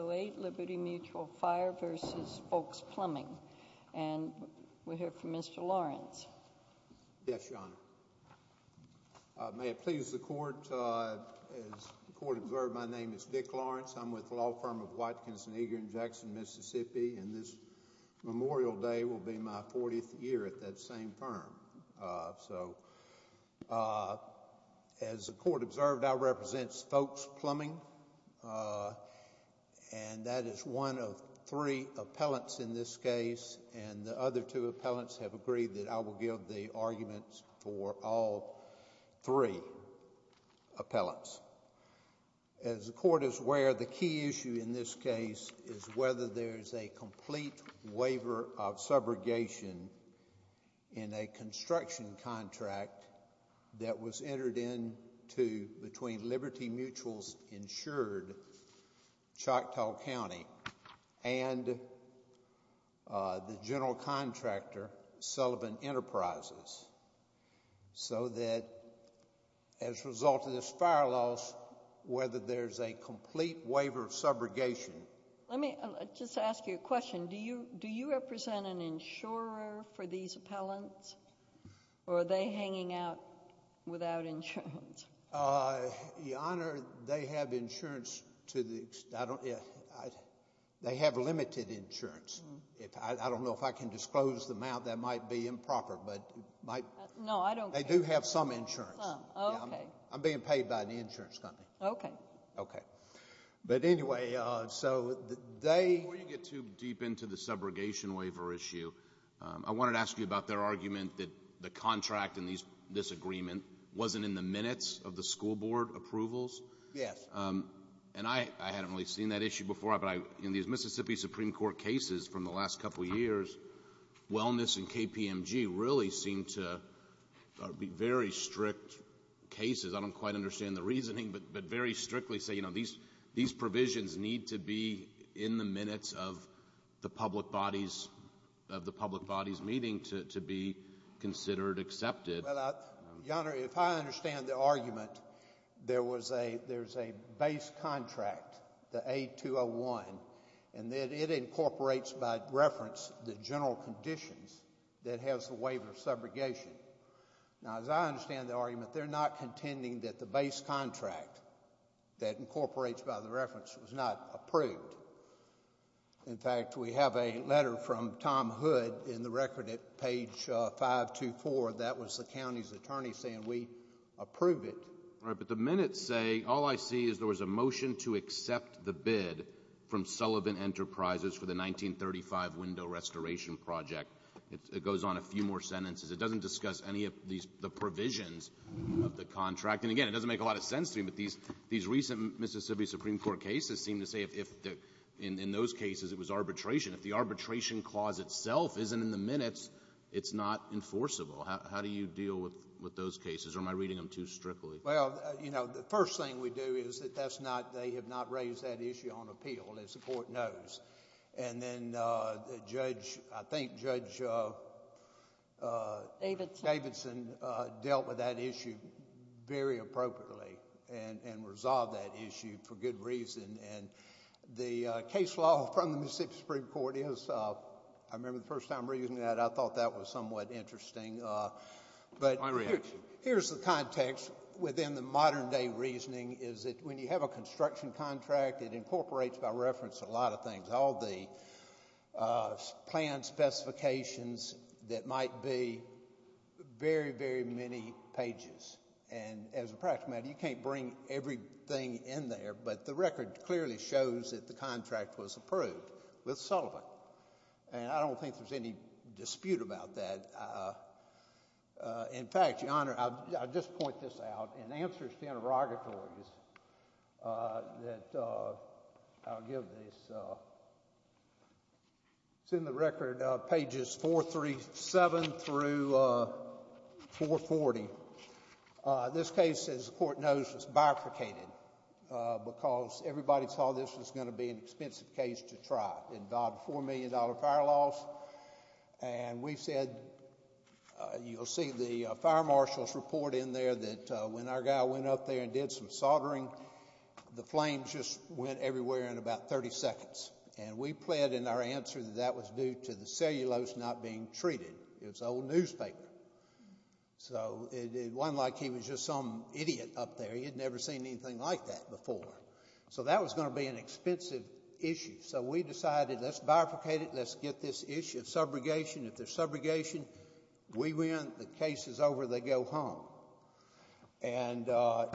08 Liberty Mutual Fire v. Fowlkes Plumbing. And we'll hear from Mr. Lawrence. Yes, Your Honor. May it please the Court, as the Court observed, my name is Dick Lawrence. I'm with the law firm of White, Kinson, Eager, and Jackson, Mississippi, and this Memorial Day will be my 40th year at that same firm. So, as the Court observed, I represent Fowlkes and that is one of three appellants in this case, and the other two appellants have agreed that I will give the arguments for all three appellants. As the Court is aware, the key issue in this case is whether there is a complete waiver of subrogation in a construction contract that was entered into between Liberty Mutual's insured Choctaw County and the general contractor Sullivan Enterprises, so that, as a result of this fire loss, whether there is a complete waiver of subrogation. Let me just ask you a question. Do you represent an insurer for these appellants, or are they hanging out without insurance? Your Honor, they have insurance. They have limited insurance. I don't know if I can disclose the amount. That might be improper. No, I don't care. They do have some insurance. Oh, okay. I'm being paid by the insurance company. Okay. Okay. But anyway, so they Before you get too deep into the subrogation waiver issue, I wanted to ask you about their wasn't in the minutes of the school board approvals? Yes. And I hadn't really seen that issue before, but in these Mississippi Supreme Court cases from the last couple of years, wellness and KPMG really seem to be very strict cases. I don't quite understand the reasoning, but very strictly say, you know, these provisions need to be in the minutes of the public body's meeting to be considered accepted. Your Honor, if I understand the argument, there's a base contract, the A-201, and it incorporates by reference the general conditions that has the waiver of subrogation. Now, as I understand the argument, they're not contending that the base contract that incorporates by the reference was not approved. In fact, we have a letter from Tom Hood in the record at page 524. That was the county's attorney saying we approve it. All right. But the minutes say all I see is there was a motion to accept the bid from Sullivan Enterprises for the 1935 window restoration project. It goes on a few more sentences. It doesn't discuss any of these provisions of the contract. And again, it doesn't make a lot of sense to me, but these recent Mississippi Supreme Court cases seem to say if in those cases it was arbitration, if the arbitration clause itself isn't in the minutes, it's not enforceable. How do you deal with those cases, or am I reading them too strictly? Well, you know, the first thing we do is that that's not... they have not raised that issue on appeal, as the Court knows. And then Judge... I think Judge Davidson dealt with that issue very appropriately and resolved that issue for good reason. And the case law from the Mississippi Supreme Court is... I remember the first time reading that. I thought that was somewhat interesting. But here's the context within the modern-day reasoning is that when you have a construction contract, it incorporates by reference a lot of things, all the plan specifications that might be very, very many pages. And as a practical matter, you can't bring everything in there, but the record clearly shows that the contract was approved with Sullivan. And I don't think there's any dispute about that. In fact, Your Honor, I'll just point this out. In answers to interrogatories that... I'll give this. It's in the record, pages 437 through 440. This case, as the Court knows, was bifurcated because everybody saw this was going to be an expensive case to try. It involved $4 million fire loss. And we said... You'll see the fire marshal's report in there that when our guy went up there and did some soldering, the flames just went everywhere in about 30 seconds. And we pled in our answer that that was due to the cellulose not being treated. It was old newspaper. So it wasn't like he was just some idiot up there. He had never seen anything like that before. So that was going to be an expensive issue. So we decided let's bifurcate it. Let's get this issue of subrogation. If there's subrogation, we win. The case is over. They go home. And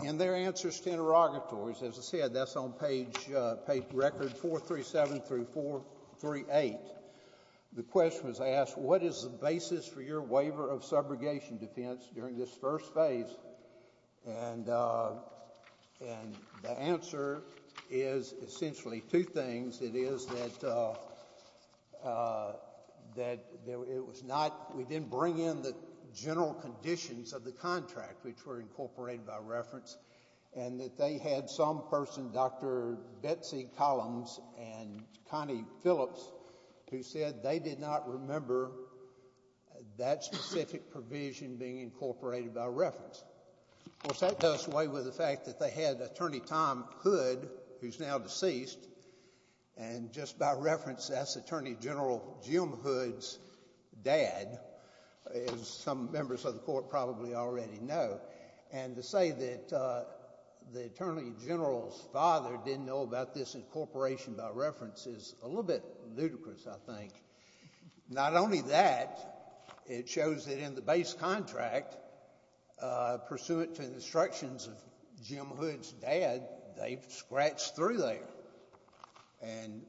in their answers to interrogatories, as I said, that's on page... record 437 through 438, the question was asked, what is the basis for the subrogation? And the answer is essentially two things. It is that it was not... we didn't bring in the general conditions of the contract, which were incorporated by reference, and that they had some person, Dr. Betsy Collins and Connie Phillips, who said they did not remember that specific provision being incorporated by reference. Of course, that does away with the fact that they had Attorney Tom Hood, who's now deceased. And just by reference, that's Attorney General Jim Hood's dad, as some members of the Court probably already know. And to say that the Attorney General's father didn't know about this incorporation by reference is a little bit ludicrous, I think. Not only that, it shows that in the case of Attorney General Jim Hood's dad, they've scratched through there and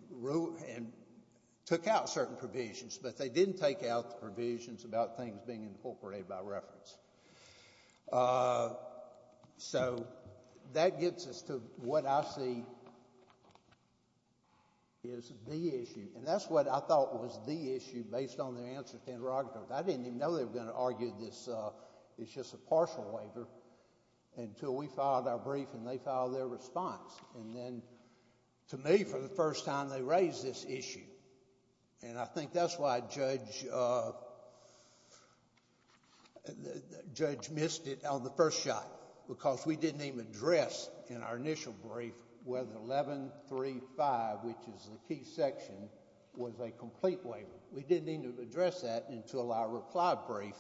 took out certain provisions, but they didn't take out the provisions about things being incorporated by reference. So that gets us to what I see is the issue. And that's what I thought was the issue based on their answers to interrogatories. I didn't even know they were going to argue this is just a partial waiver until we filed our brief and they filed their response. And then, to me, for the first time, they raised this issue. And I think that's why Judge missed it on the first shot, because we didn't even address in our initial brief whether 1135, which is the key section, was a complete waiver. We didn't even address that until our reply brief.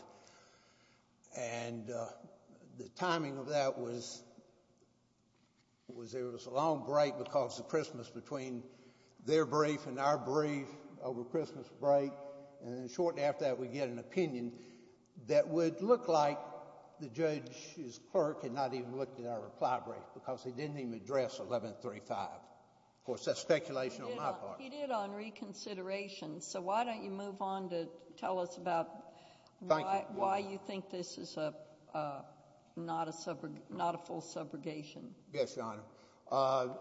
And the timing of that was there was a long break because of Christmas between their brief and our brief over Christmas break. And then shortly after that, we get an opinion that would look like the judge's clerk had not even looked at our reply brief because they didn't even address 1135. Of course, that's speculation on my part. You did on reconsideration. So why don't you move on to tell us about why you think this is not a full subrogation? Yes, Your Honor.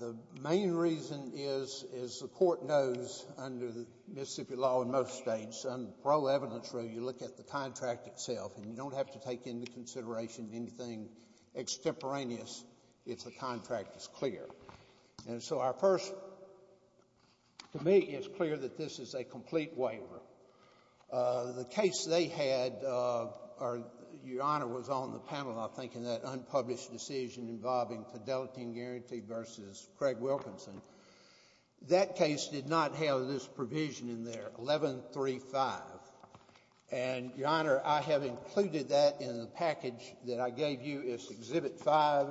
The main reason is, as the court knows under the Mississippi law in most states, in the parole evidence room, you look at the contract itself and you don't have to take into consideration anything extemporaneous if the contract is clear. And so our first to me is clear that this is a complete waiver. The case they had, Your Honor, was on the panel, I think, in that unpublished decision involving Fidelity and Guarantee v. Craig Wilkinson. That case did not have this provision in there, 1135. And, Your Honor, I have included that in the package that I gave you as Exhibit 5,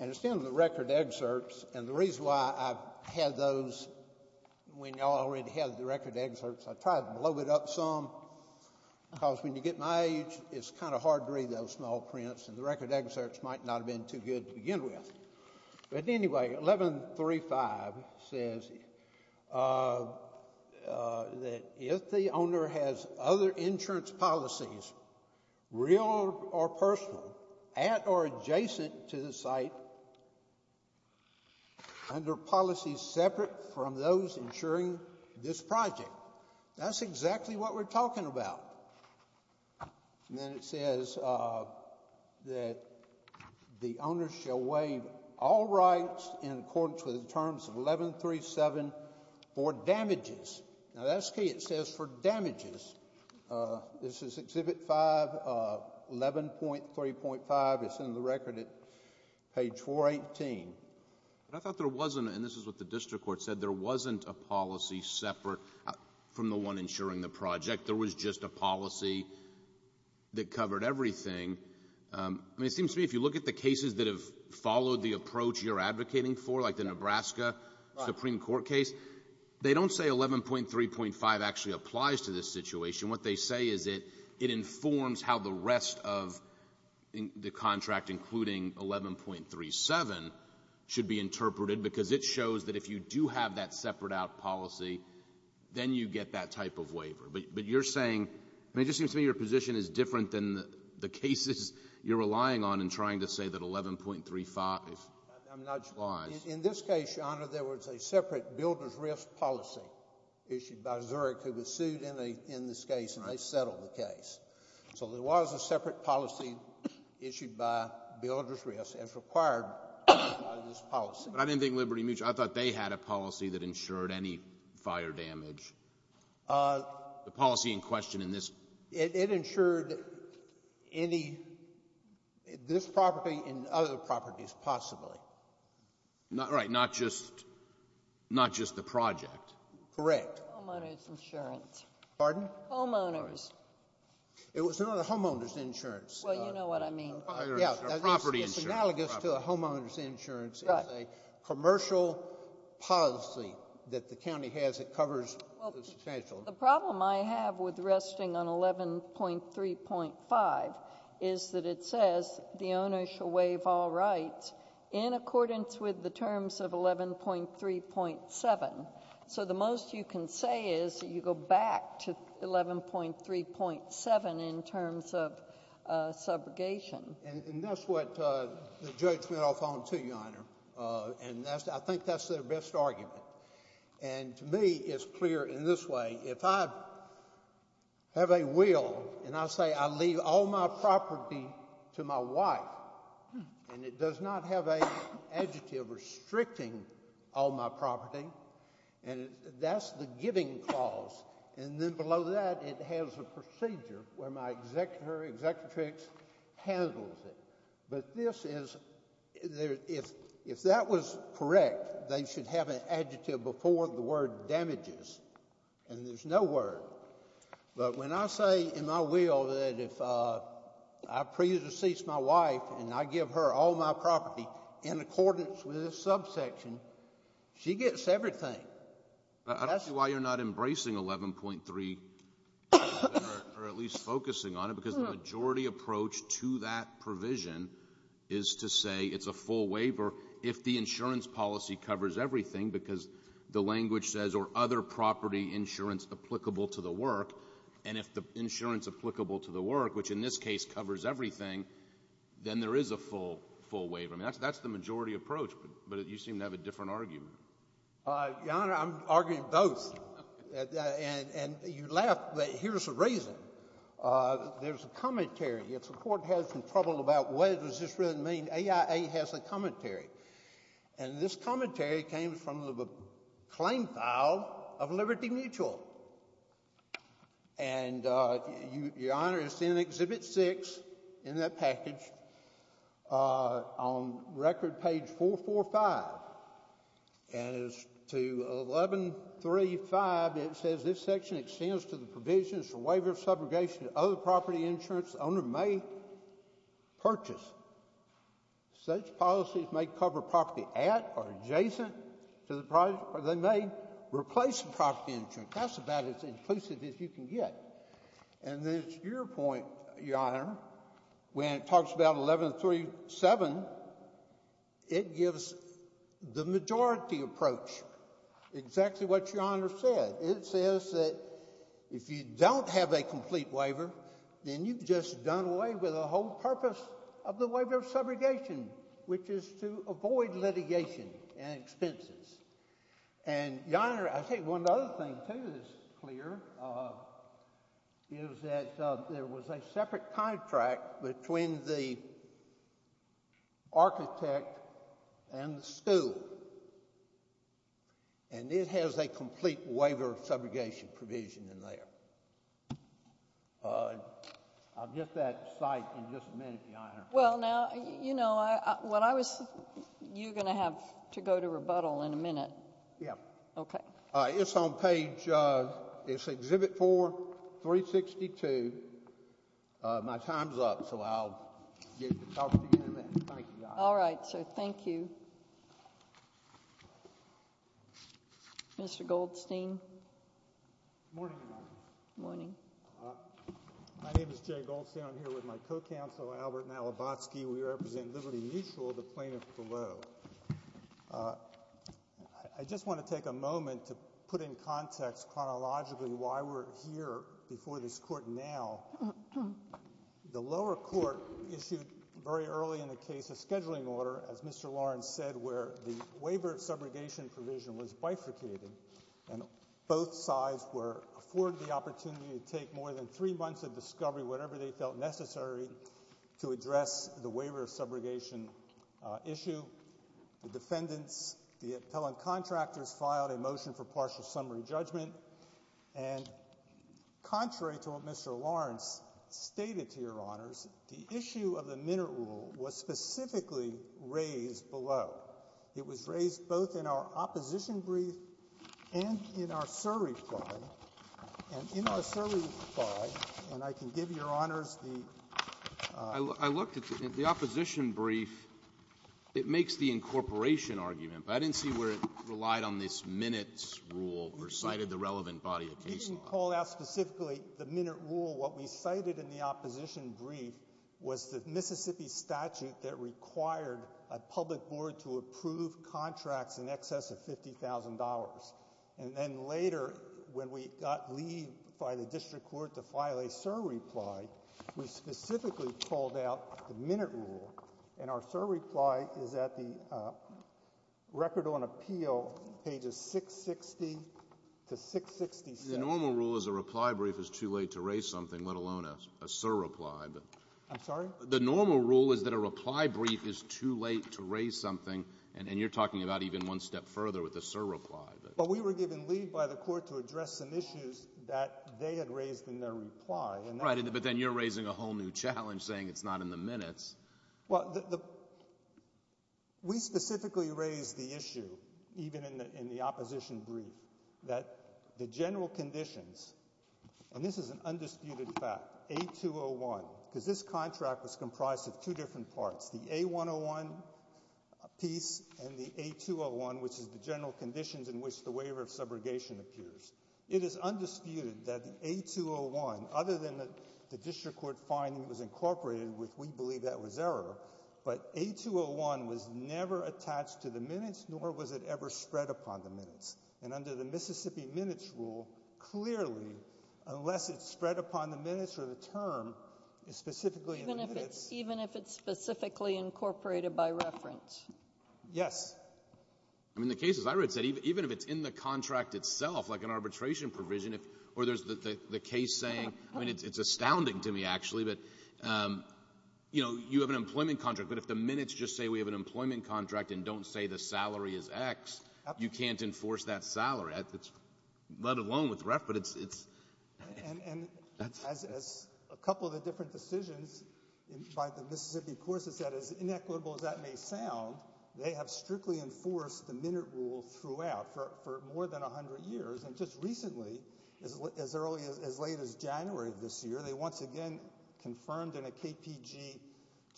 and it's in the record excerpts. And the reason why I've had those when y'all already had the record excerpts, I tried to blow it up some because when you get my age, it's kind of hard to read those small prints, and the record excerpts might not have been too good to begin with. But anyway, 1135 says that if the owner has other insurance policies, real or personal, at or adjacent to the site, under policies separate from those insuring this project, that's exactly what we're talking about. And then it says that the owner shall waive all rights in accordance with the terms of 1137 for damages. Now, that's key. It says for 11.3.5, it's in the record at page 418. But I thought there wasn't, and this is what the district court said, there wasn't a policy separate from the one insuring the project. There was just a policy that covered everything. I mean, it seems to me if you look at the cases that have followed the approach you're advocating for, like the Nebraska Supreme Court case, they don't say 11.3.5 actually including 11.37 should be interpreted, because it shows that if you do have that separate out policy, then you get that type of waiver. But you're saying, I mean, it just seems to me your position is different than the cases you're relying on in trying to say that 11.35 was. I'm not sure. In this case, Your Honor, there was a separate builder's risk policy issued by Zurich who was sued in this case, and they settled the case. So there was a separate policy issued by builder's risk as required by this policy. But I didn't think Liberty Mutual, I thought they had a policy that insured any fire damage. The policy in question in this. It insured any, this property and other properties possibly. Right, not just the project. Correct. Homeowner's insurance. Pardon? Homeowner's. It was not a homeowner's insurance. Well, you know what I mean. Yeah. Property insurance. It's analogous to a homeowner's insurance. Right. It's a commercial policy that the county has that covers the substantial. Well, the problem I have with resting on 11.3.5 is that it says the owner shall waive all rights in accordance with the terms of 11.3.7. So the most you can say is you go back to And that's what the judge went off on, too, Your Honor. And I think that's their best argument. And to me, it's clear in this way. If I have a will and I say I leave all my property to my wife and it does not have an adjective restricting all my property, that's the giving clause. And then below that, it has a procedure where my executrix handles it. But if that was correct, they should have an adjective before the word damages. And there's no word. But when I say in my will that if I pre-decease my wife and I give her all my property in accordance with this subsection, she gets everything. I don't see why you're not embracing 11.3 or at least focusing on it because the majority approach to that provision is to say it's a full waiver if the insurance policy covers everything because the language says or other property insurance applicable to the work. And if the insurance applicable to the work, which in this case covers everything, then there is a full waiver. I mean, that's the majority approach, but you seem to have a different argument. Your Honor, I'm arguing both. And you laugh, but here's the reason. There's a commentary. If the Court has some trouble about what does this really mean, AIA has a commentary. And this commentary came from the claim file of Liberty Mutual. And, Your Honor, it's in Exhibit 6 in that package on record page 445. And it's to 11.3.5. It says, This section extends to the provisions for waiver of subrogation to other property insurance the owner may purchase. Such policies may cover property at or adjacent to the project, or they may replace the property insurance. That's about as inclusive as you can get. And it's your point, Your Honor, when it talks about 11.3.7, it gives the majority approach exactly what Your Honor said. It says that if you don't have a complete waiver, then you've just done away with the whole purpose of the waiver of subrogation, which is to avoid litigation and expenses. And, Your Honor, I think one other thing, too, that's clear is that there was a separate contract between the architect and the school. And it has a complete waiver of subrogation provision in there. I'll get that cite in just a minute, Your Honor. Well, now, you know, what I was you going to have to go to rebuttal in a minute. Yeah. Okay. It's on page, it's Exhibit 4362. My time's up, so I'll get to talk to you in a minute. Thank you, Your Honor. All right, so thank you. Mr. Goldstein. Good morning, Your Honor. Good morning. My name is Jay Goldstein. I'm here with my co-counsel, Albert Malabotsky. We represent Liberty Mutual, the plaintiff below. I just want to take a moment to put in context chronologically why we're here before this court now. The lower court issued very early in the case a scheduling order, as Mr. Lawrence said, where the waiver of subrogation provision was bifurcated. And both sides were afforded the opportunity to take more than three months of discovery, whatever they felt necessary, to address the waiver of subrogation issue. The defendants, the appellant contractors, filed a motion for partial summary judgment. And contrary to what Mr. Lawrence stated to Your Honors, the issue of the Minut rule was specifically raised below. It was raised both in our opposition brief and in our survey file. And in our survey file, and I can give Your Honors the ---- I looked at the opposition brief. It makes the incorporation argument, but I didn't see where it relied on this Minut rule or cited the relevant body of case law. We didn't call out specifically the Minut rule. What we cited in the opposition brief was the Mississippi statute that required a public board to approve contracts in excess of $50,000. And then later, when we got leave by the district court to file a SIR reply, we specifically called out the Minut rule. And our SIR reply is at the Record on Appeal, pages 660 to 667. The normal rule is a reply brief is too late to raise something, let alone a SIR reply. I'm sorry? The normal rule is that a reply brief is too late to raise something. And you're talking about even one step further with the SIR reply. But we were given leave by the court to address some issues that they had raised in their reply. Right, but then you're raising a whole new challenge, saying it's not in the Minuts. Well, we specifically raised the issue, even in the opposition brief, that the general conditions, and this is an undisputed fact, A-201, because this contract was comprised of two different parts, the A-101 piece and the A-201, which is the general conditions in which the waiver of subrogation appears. It is undisputed that the A-201, other than the district court finding it was incorporated, which we believe that was error, but A-201 was never attached to the Minuts, nor was it ever spread upon the Minuts. And under the Mississippi Minuts rule, clearly, unless it's spread upon the Minuts or the term, it's specifically in the Minuts. Even if it's specifically incorporated by reference? Yes. I mean, the cases I read said even if it's in the contract itself, like an arbitration provision, or there's the case saying, I mean, it's astounding to me, actually, that, you know, you have an employment contract, but if the Minuts just say we have an employment contract and don't say the salary is X, you can't enforce that salary, let alone with REF, but it's ‑‑ And as a couple of the different decisions by the Mississippi courts have said, as inequitable as that may sound, they have strictly enforced the Minut rule throughout for more than 100 years, and just recently, as late as January of this year, they once again confirmed in a KPG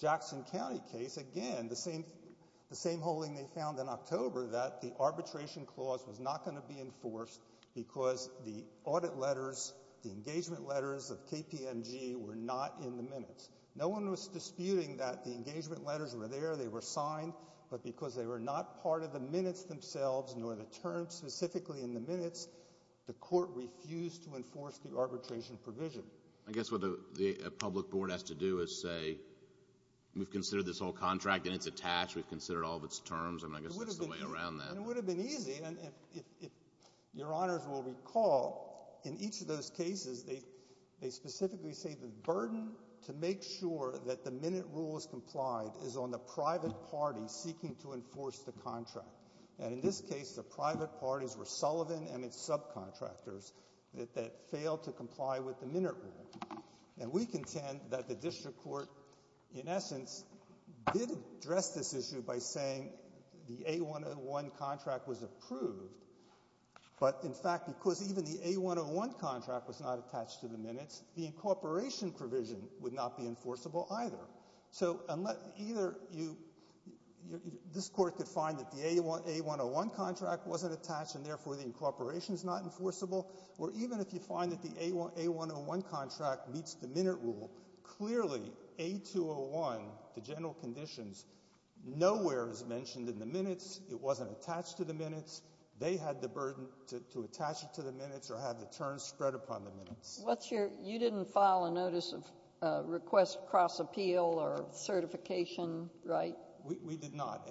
Jackson County case, again, the same holding they found in October, that the arbitration clause was not going to be enforced because the audit letters, the engagement letters of KPMG were not in the Minuts. No one was disputing that the engagement letters were there, they were signed, but because they were not part of the Minuts themselves, nor the terms specifically in the Minuts, the court refused to enforce the arbitration provision. I guess what the public board has to do is say, we've considered this whole contract, and it's attached, we've considered all of its terms, and I guess that's the way around that. It would have been easy, and if your honors will recall, in each of those cases, they specifically say the burden to make sure that the Minut rule is complied is on the private party seeking to enforce the contract, and in this case, the private parties were Sullivan and its subcontractors that failed to comply with the Minut rule, and we contend that the district court, in essence, did address this issue by saying the A101 contract was approved, but in fact, because even the A101 contract was not attached to the Minuts, the incorporation provision would not be enforceable either. So, unless either you, this court could find that the A101 contract wasn't attached, and therefore the incorporation is not enforceable, or even if you find that the A101 contract meets the Minut rule, clearly, A201, the general conditions, nowhere is mentioned in the Minuts, it wasn't attached to the Minuts, they had the burden to attach it to the Minuts or have the terms spread upon the Minuts. You didn't file a notice of request cross-appeal or certification, right? We did not,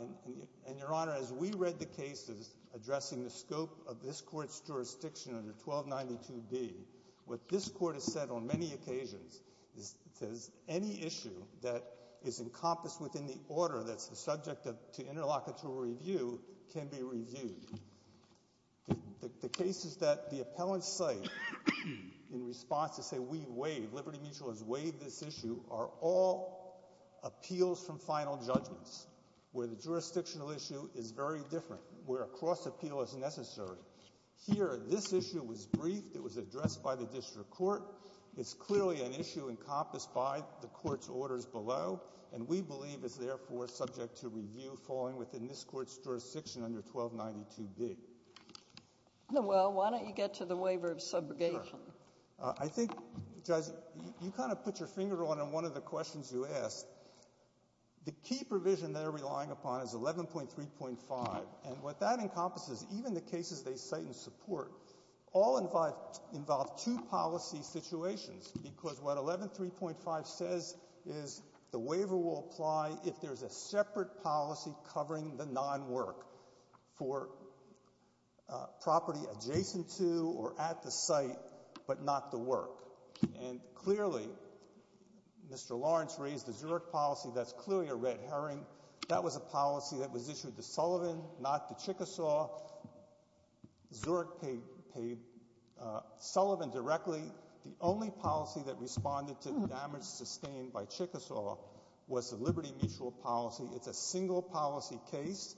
and your honor, as we read the cases addressing the scope of this court's jurisdiction under 1292B, what this court has said on many occasions is any issue that is encompassed within the order that's the subject to interlocutory review can be reviewed. The cases that the appellants say in response to say we waive, Liberty Mutual has waived this issue, are all appeals from final judgments, where the jurisdictional issue is very different, where a cross-appeal is necessary. Here, this issue was briefed, it was addressed by the district court, it's clearly an issue encompassed by the court's orders below, and we believe is therefore subject to review falling within this court's jurisdiction under 1292B. Nowell, why don't you get to the waiver of subrogation? I think, Judge, you kind of put your finger on one of the questions you asked. The key provision they're relying upon is 11.3.5, and what that encompasses, even the cases they cite in support, all involve two policy situations, because what 11.3.5 says is the waiver will apply if there's a separate policy covering the non-work for property adjacent to or at the site, but not the work. And clearly, Mr. Lawrence raised the Zurich policy, that's clearly a red herring. That was a policy that was issued to Sullivan, not to Chickasaw. Zurich paid Sullivan directly. The only policy that responded to the damage sustained by Chickasaw was the liberty mutual policy. It's a single policy case.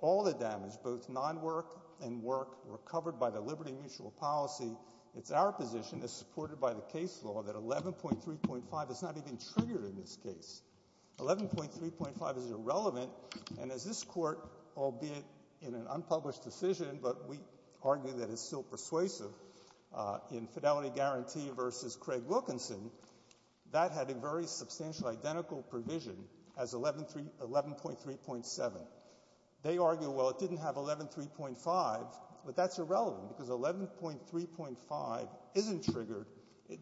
All the damage, both non-work and work, were covered by the liberty mutual policy. It's our position, as supported by the case law, that 11.3.5 is not even triggered in this case. 11.3.5 is irrelevant, and as this Court, albeit in an unpublished decision, but we argue that it's still persuasive in Fidelity Guarantee v. Craig Wilkinson, that had a very substantial identical provision as 11.3.7. They argue, well, it didn't have 11.3.5, but that's irrelevant, because 11.3.5 isn't triggered.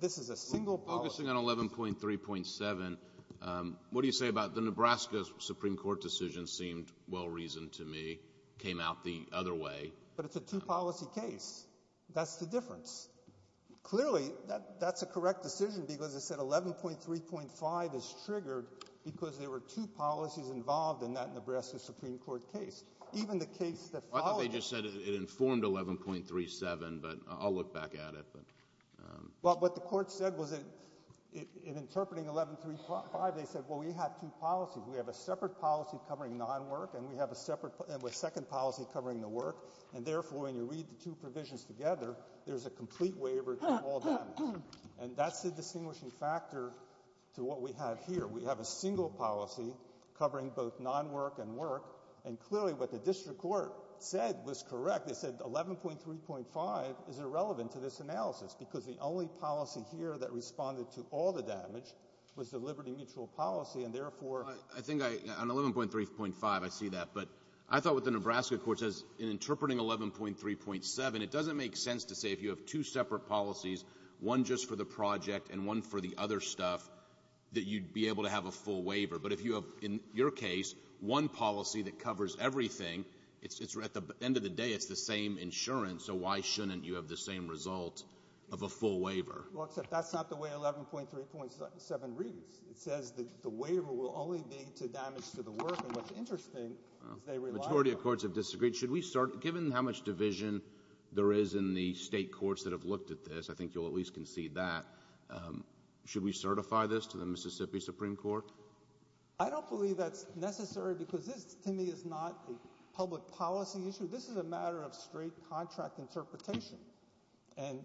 This is a single policy. Focusing on 11.3.7, what do you say about the Nebraska Supreme Court decision seemed well-reasoned to me, came out the other way. But it's a two-policy case. That's the difference. Clearly, that's a correct decision, because it said 11.3.5 is triggered because there were two policies involved in that Nebraska Supreme Court case, even the case that followed it. I thought they just said it informed 11.3.7, but I'll look back at it. Well, what the Court said was in interpreting 11.3.5, they said, well, we have two policies. We have a separate policy covering non-work, and we have a second policy covering the work, and therefore when you read the two provisions together, there's a complete waiver to all that. And that's the distinguishing factor to what we have here. We have a single policy covering both non-work and work, and clearly what the district court said was correct. In fact, they said 11.3.5 is irrelevant to this analysis because the only policy here that responded to all the damage was the liberty mutual policy, and therefore... I think on 11.3.5 I see that. But I thought what the Nebraska court says in interpreting 11.3.7, it doesn't make sense to say if you have two separate policies, one just for the project and one for the other stuff, that you'd be able to have a full waiver. But if you have, in your case, one policy that covers everything, at the end of the day it's the same insurance, so why shouldn't you have the same result of a full waiver? Well, except that's not the way 11.3.7 reads. It says that the waiver will only be to damage to the work, and what's interesting is they rely on... The majority of courts have disagreed. Should we start... Given how much division there is in the State courts that have looked at this, I think you'll at least concede that. Should we certify this to the Mississippi Supreme Court? I don't believe that's necessary because this, to me, is not a public policy issue. This is a matter of straight contract interpretation, and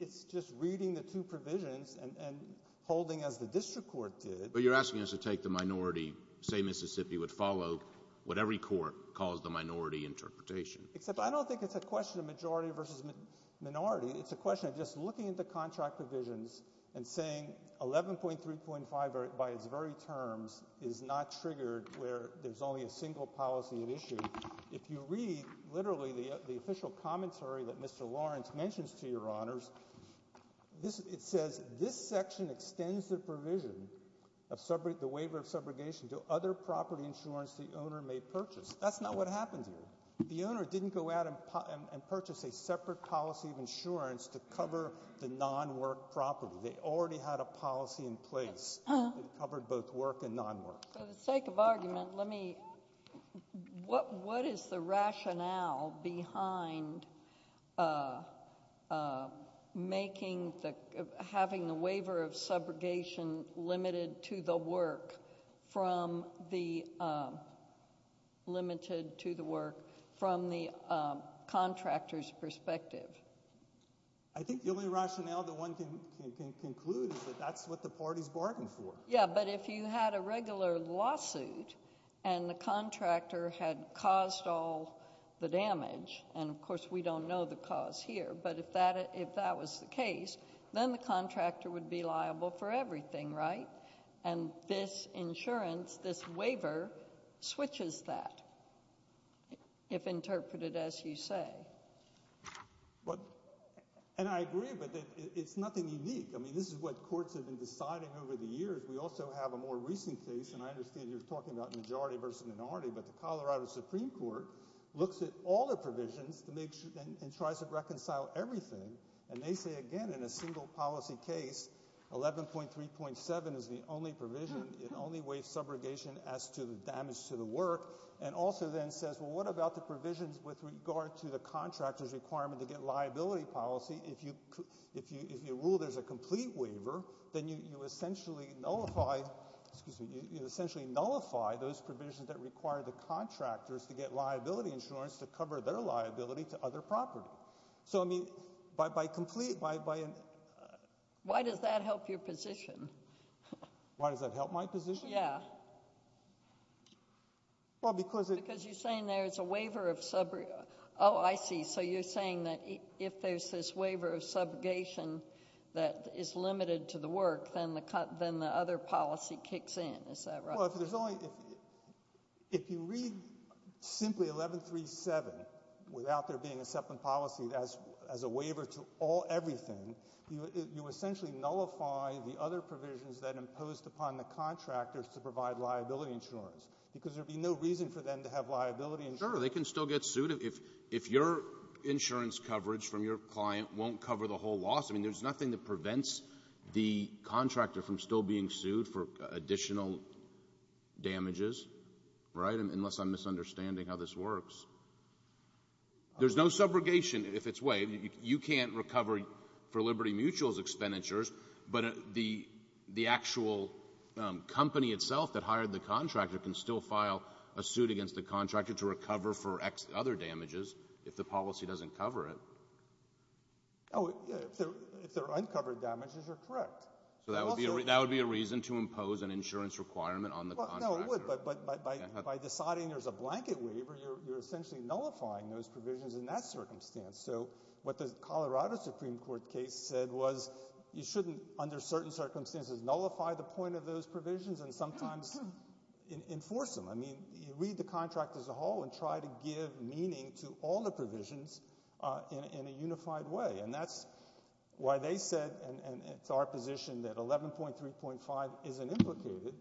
it's just reading the two provisions and holding as the district court did. But you're asking us to take the minority, say Mississippi, would follow what every court calls the minority interpretation. Except I don't think it's a question of majority versus minority. It's a question of just looking at the contract provisions and saying 11.3.5 by its very terms is not triggered where there's only a single policy at issue. If you read literally the official commentary that Mr. Lawrence mentions to your honors, it says this section extends the provision of the waiver of subrogation to other property insurance the owner may purchase. That's not what happened here. The owner didn't go out and purchase a separate policy of insurance to cover the non-work property. They already had a policy in place that covered both work and non-work. For the sake of argument, what is the rationale behind having the waiver of subrogation limited to the work from the contractor's perspective? I think the only rationale that one can conclude is that that's what the parties bargained for. Yeah, but if you had a regular lawsuit and the contractor had caused all the damage, and of course we don't know the cause here, but if that was the case, then the contractor would be liable for everything, right? And this insurance, this waiver, switches that, if interpreted as you say. And I agree, but it's nothing unique. I mean, this is what courts have been deciding over the years. We also have a more recent case, and I understand you're talking about majority versus minority, but the Colorado Supreme Court looks at all the provisions and tries to reconcile everything. And they say, again, in a single policy case, 11.3.7 is the only provision, it only waives subrogation as to the damage to the work, and also then says, well, what about the provisions with regard to the contractor's requirement to get liability policy? If you rule there's a complete waiver, then you essentially nullify those provisions that require the contractors to get liability insurance to cover their liability to other property. So, I mean, by complete, by an— Why does that help your position? Why does that help my position? Yeah. Well, because— Because you're saying there's a waiver of sub—oh, I see. So you're saying that if there's this waiver of subrogation that is limited to the work, then the other policy kicks in. Is that right? Well, if there's only—if you read simply 11.3.7 without there being a separate policy as a waiver to all everything, you essentially nullify the other provisions that imposed upon the contractors to provide liability insurance because there would be no reason for them to have liability insurance. Sure. They can still get sued. If your insurance coverage from your client won't cover the whole loss, I mean, there's nothing that prevents the contractor from still being sued for additional damages, right, unless I'm misunderstanding how this works. There's no subrogation if it's waived. You can't recover for Liberty Mutual's expenditures, but the actual company itself that hired the contractor can still file a suit against the contractor to recover for other damages if the policy doesn't cover it. Oh, if they're uncovered damages, you're correct. So that would be a reason to impose an insurance requirement on the contractor. No, it would, but by deciding there's a blanket waiver, you're essentially nullifying those provisions in that circumstance. So what the Colorado Supreme Court case said was you shouldn't, under certain circumstances, nullify the point of those provisions and sometimes enforce them. I mean, you read the contract as a whole and try to give meaning to all the provisions in a unified way, and that's why they said, and it's our position, that 11.3.5 isn't implicated,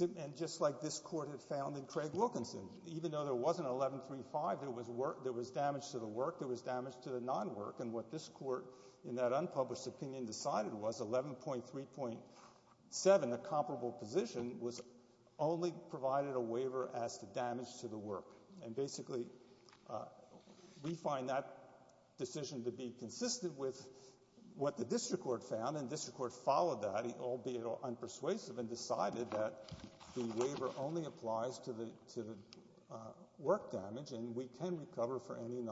and just like this court had found in Craig Wilkinson. Even though there wasn't 11.35, there was damage to the work, there was damage to the non-work, and what this court in that unpublished opinion decided was 11.3.7, a comparable position, was only provided a waiver as to damage to the work, and basically we find that decision to be consistent with what the district court found, and the district court followed that, albeit unpersuasive, and decided that the waiver only applies to the work damage, and we can recover for any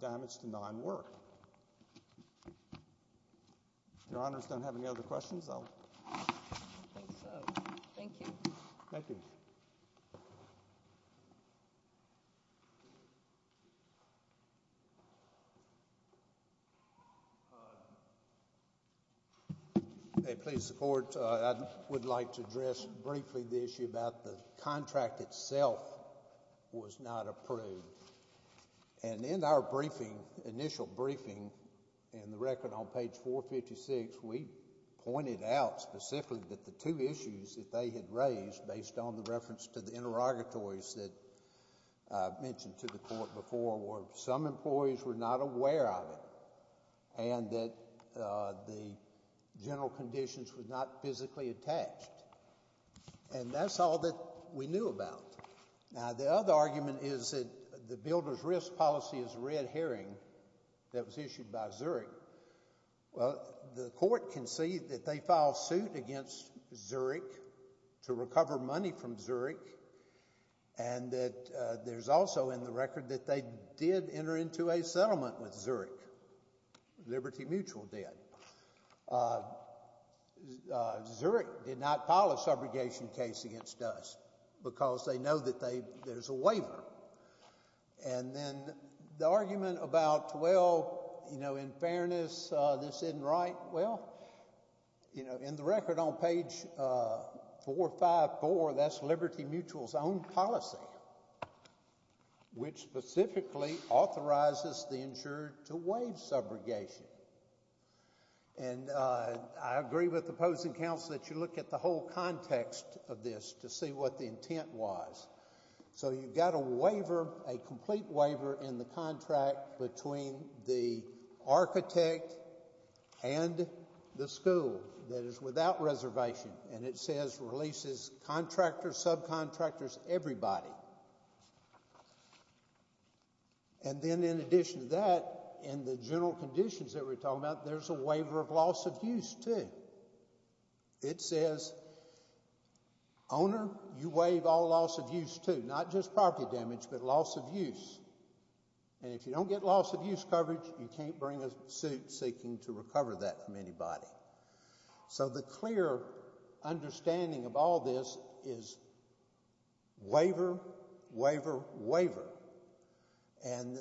damage to non-work. Your Honors, do I have any other questions? I don't think so. Thank you. Thank you. Please support. I would like to address briefly the issue about the contract itself was not approved, and in our briefing, initial briefing, in the record on page 456, we pointed out specifically that the two issues that they had raised, based on the reference to the interrogatories that I mentioned to the court before, were some employees were not aware of it, and that the general conditions were not physically attached, and that's all that we knew about. Now, the other argument is that the builder's risk policy is a red herring that was issued by Zurich. Well, the court conceded that they filed suit against Zurich to recover money from Zurich, and that there's also in the record that they did enter into a settlement with Zurich, Liberty Mutual did. Zurich did not file a subrogation case against us because they know that there's a waiver. And then the argument about, well, you know, in fairness, this isn't right, well, you know, in the record on page 454, that's Liberty Mutual's own policy, which specifically authorizes the insurer to waive subrogation. And I agree with the opposing counsel that you look at the whole context of this to see what the intent was. So you've got a waiver, a complete waiver, in the contract between the architect and the school that is without reservation, and it says releases contractors, subcontractors, everybody. And then in addition to that, in the general conditions that we're talking about, there's a waiver of loss of use, too. It says owner, you waive all loss of use, too, not just property damage, but loss of use. And if you don't get loss of use coverage, you can't bring a suit seeking to recover that from anybody. So the clear understanding of all this is waiver, waiver, waiver. And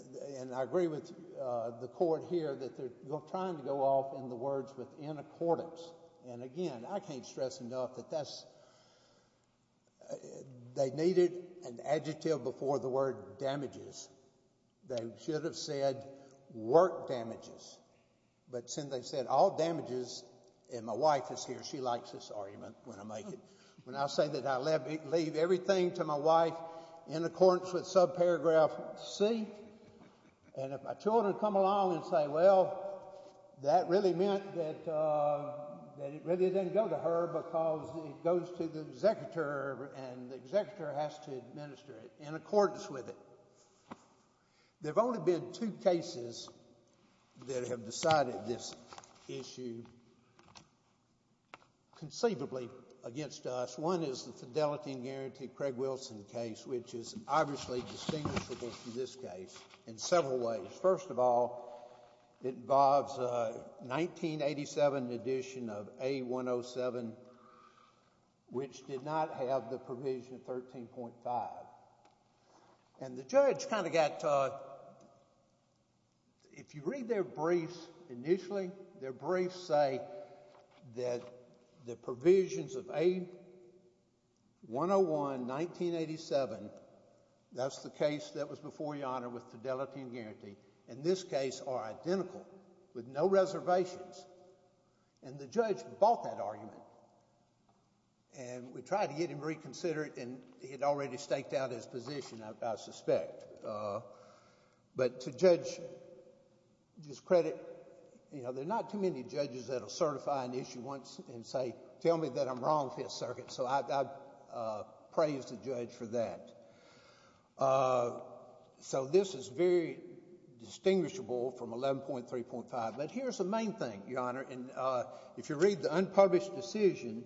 I agree with the court here that they're trying to go off in the words with in accordance. And, again, I can't stress enough that that's – they needed an adjective before the word damages. They should have said work damages. But since they said all damages, and my wife is here. She likes this argument when I make it. When I say that I leave everything to my wife in accordance with subparagraph C, and if my children come along and say, well, that really meant that it really didn't go to her because it goes to the executor and the executor has to administer it in accordance with it. There have only been two cases that have decided this issue conceivably against us. One is the Fidelity and Guarantee Craig Wilson case, which is obviously distinguishable from this case in several ways. First of all, it involves a 1987 edition of A107, which did not have the provision 13.5. And the judge kind of got – if you read their briefs initially, their briefs say that the provisions of A101, 1987 – that's the case that was before your Honor with Fidelity and Guarantee – in this case are identical with no reservations. And the judge bought that argument, and we tried to get him to reconsider it, and he had already staked out his position, I suspect. But to judge's credit, you know, there are not too many judges that will certify an issue once and say, tell me that I'm wrong, Fifth Circuit. So I praise the judge for that. So this is very distinguishable from 11.3.5. But here's the main thing, Your Honor, and if you read the unpublished decision,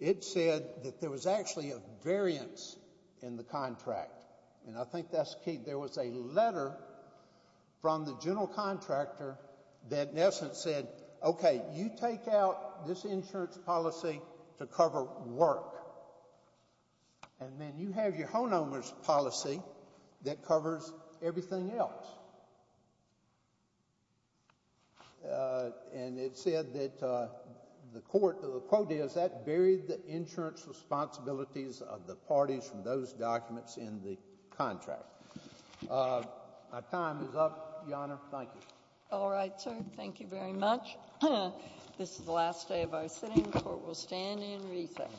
it said that there was actually a variance in the contract, and I think that's key. There was a letter from the general contractor that in essence said, okay, you take out this insurance policy to cover work, and then you have your homeowner's policy that covers everything else. And it said that the court – the quote is, that buried the insurance responsibilities of the parties from those documents in the contract. My time is up, Your Honor. Thank you. All right, sir. Thank you very much. This is the last day of our sitting. The court will stand and recess.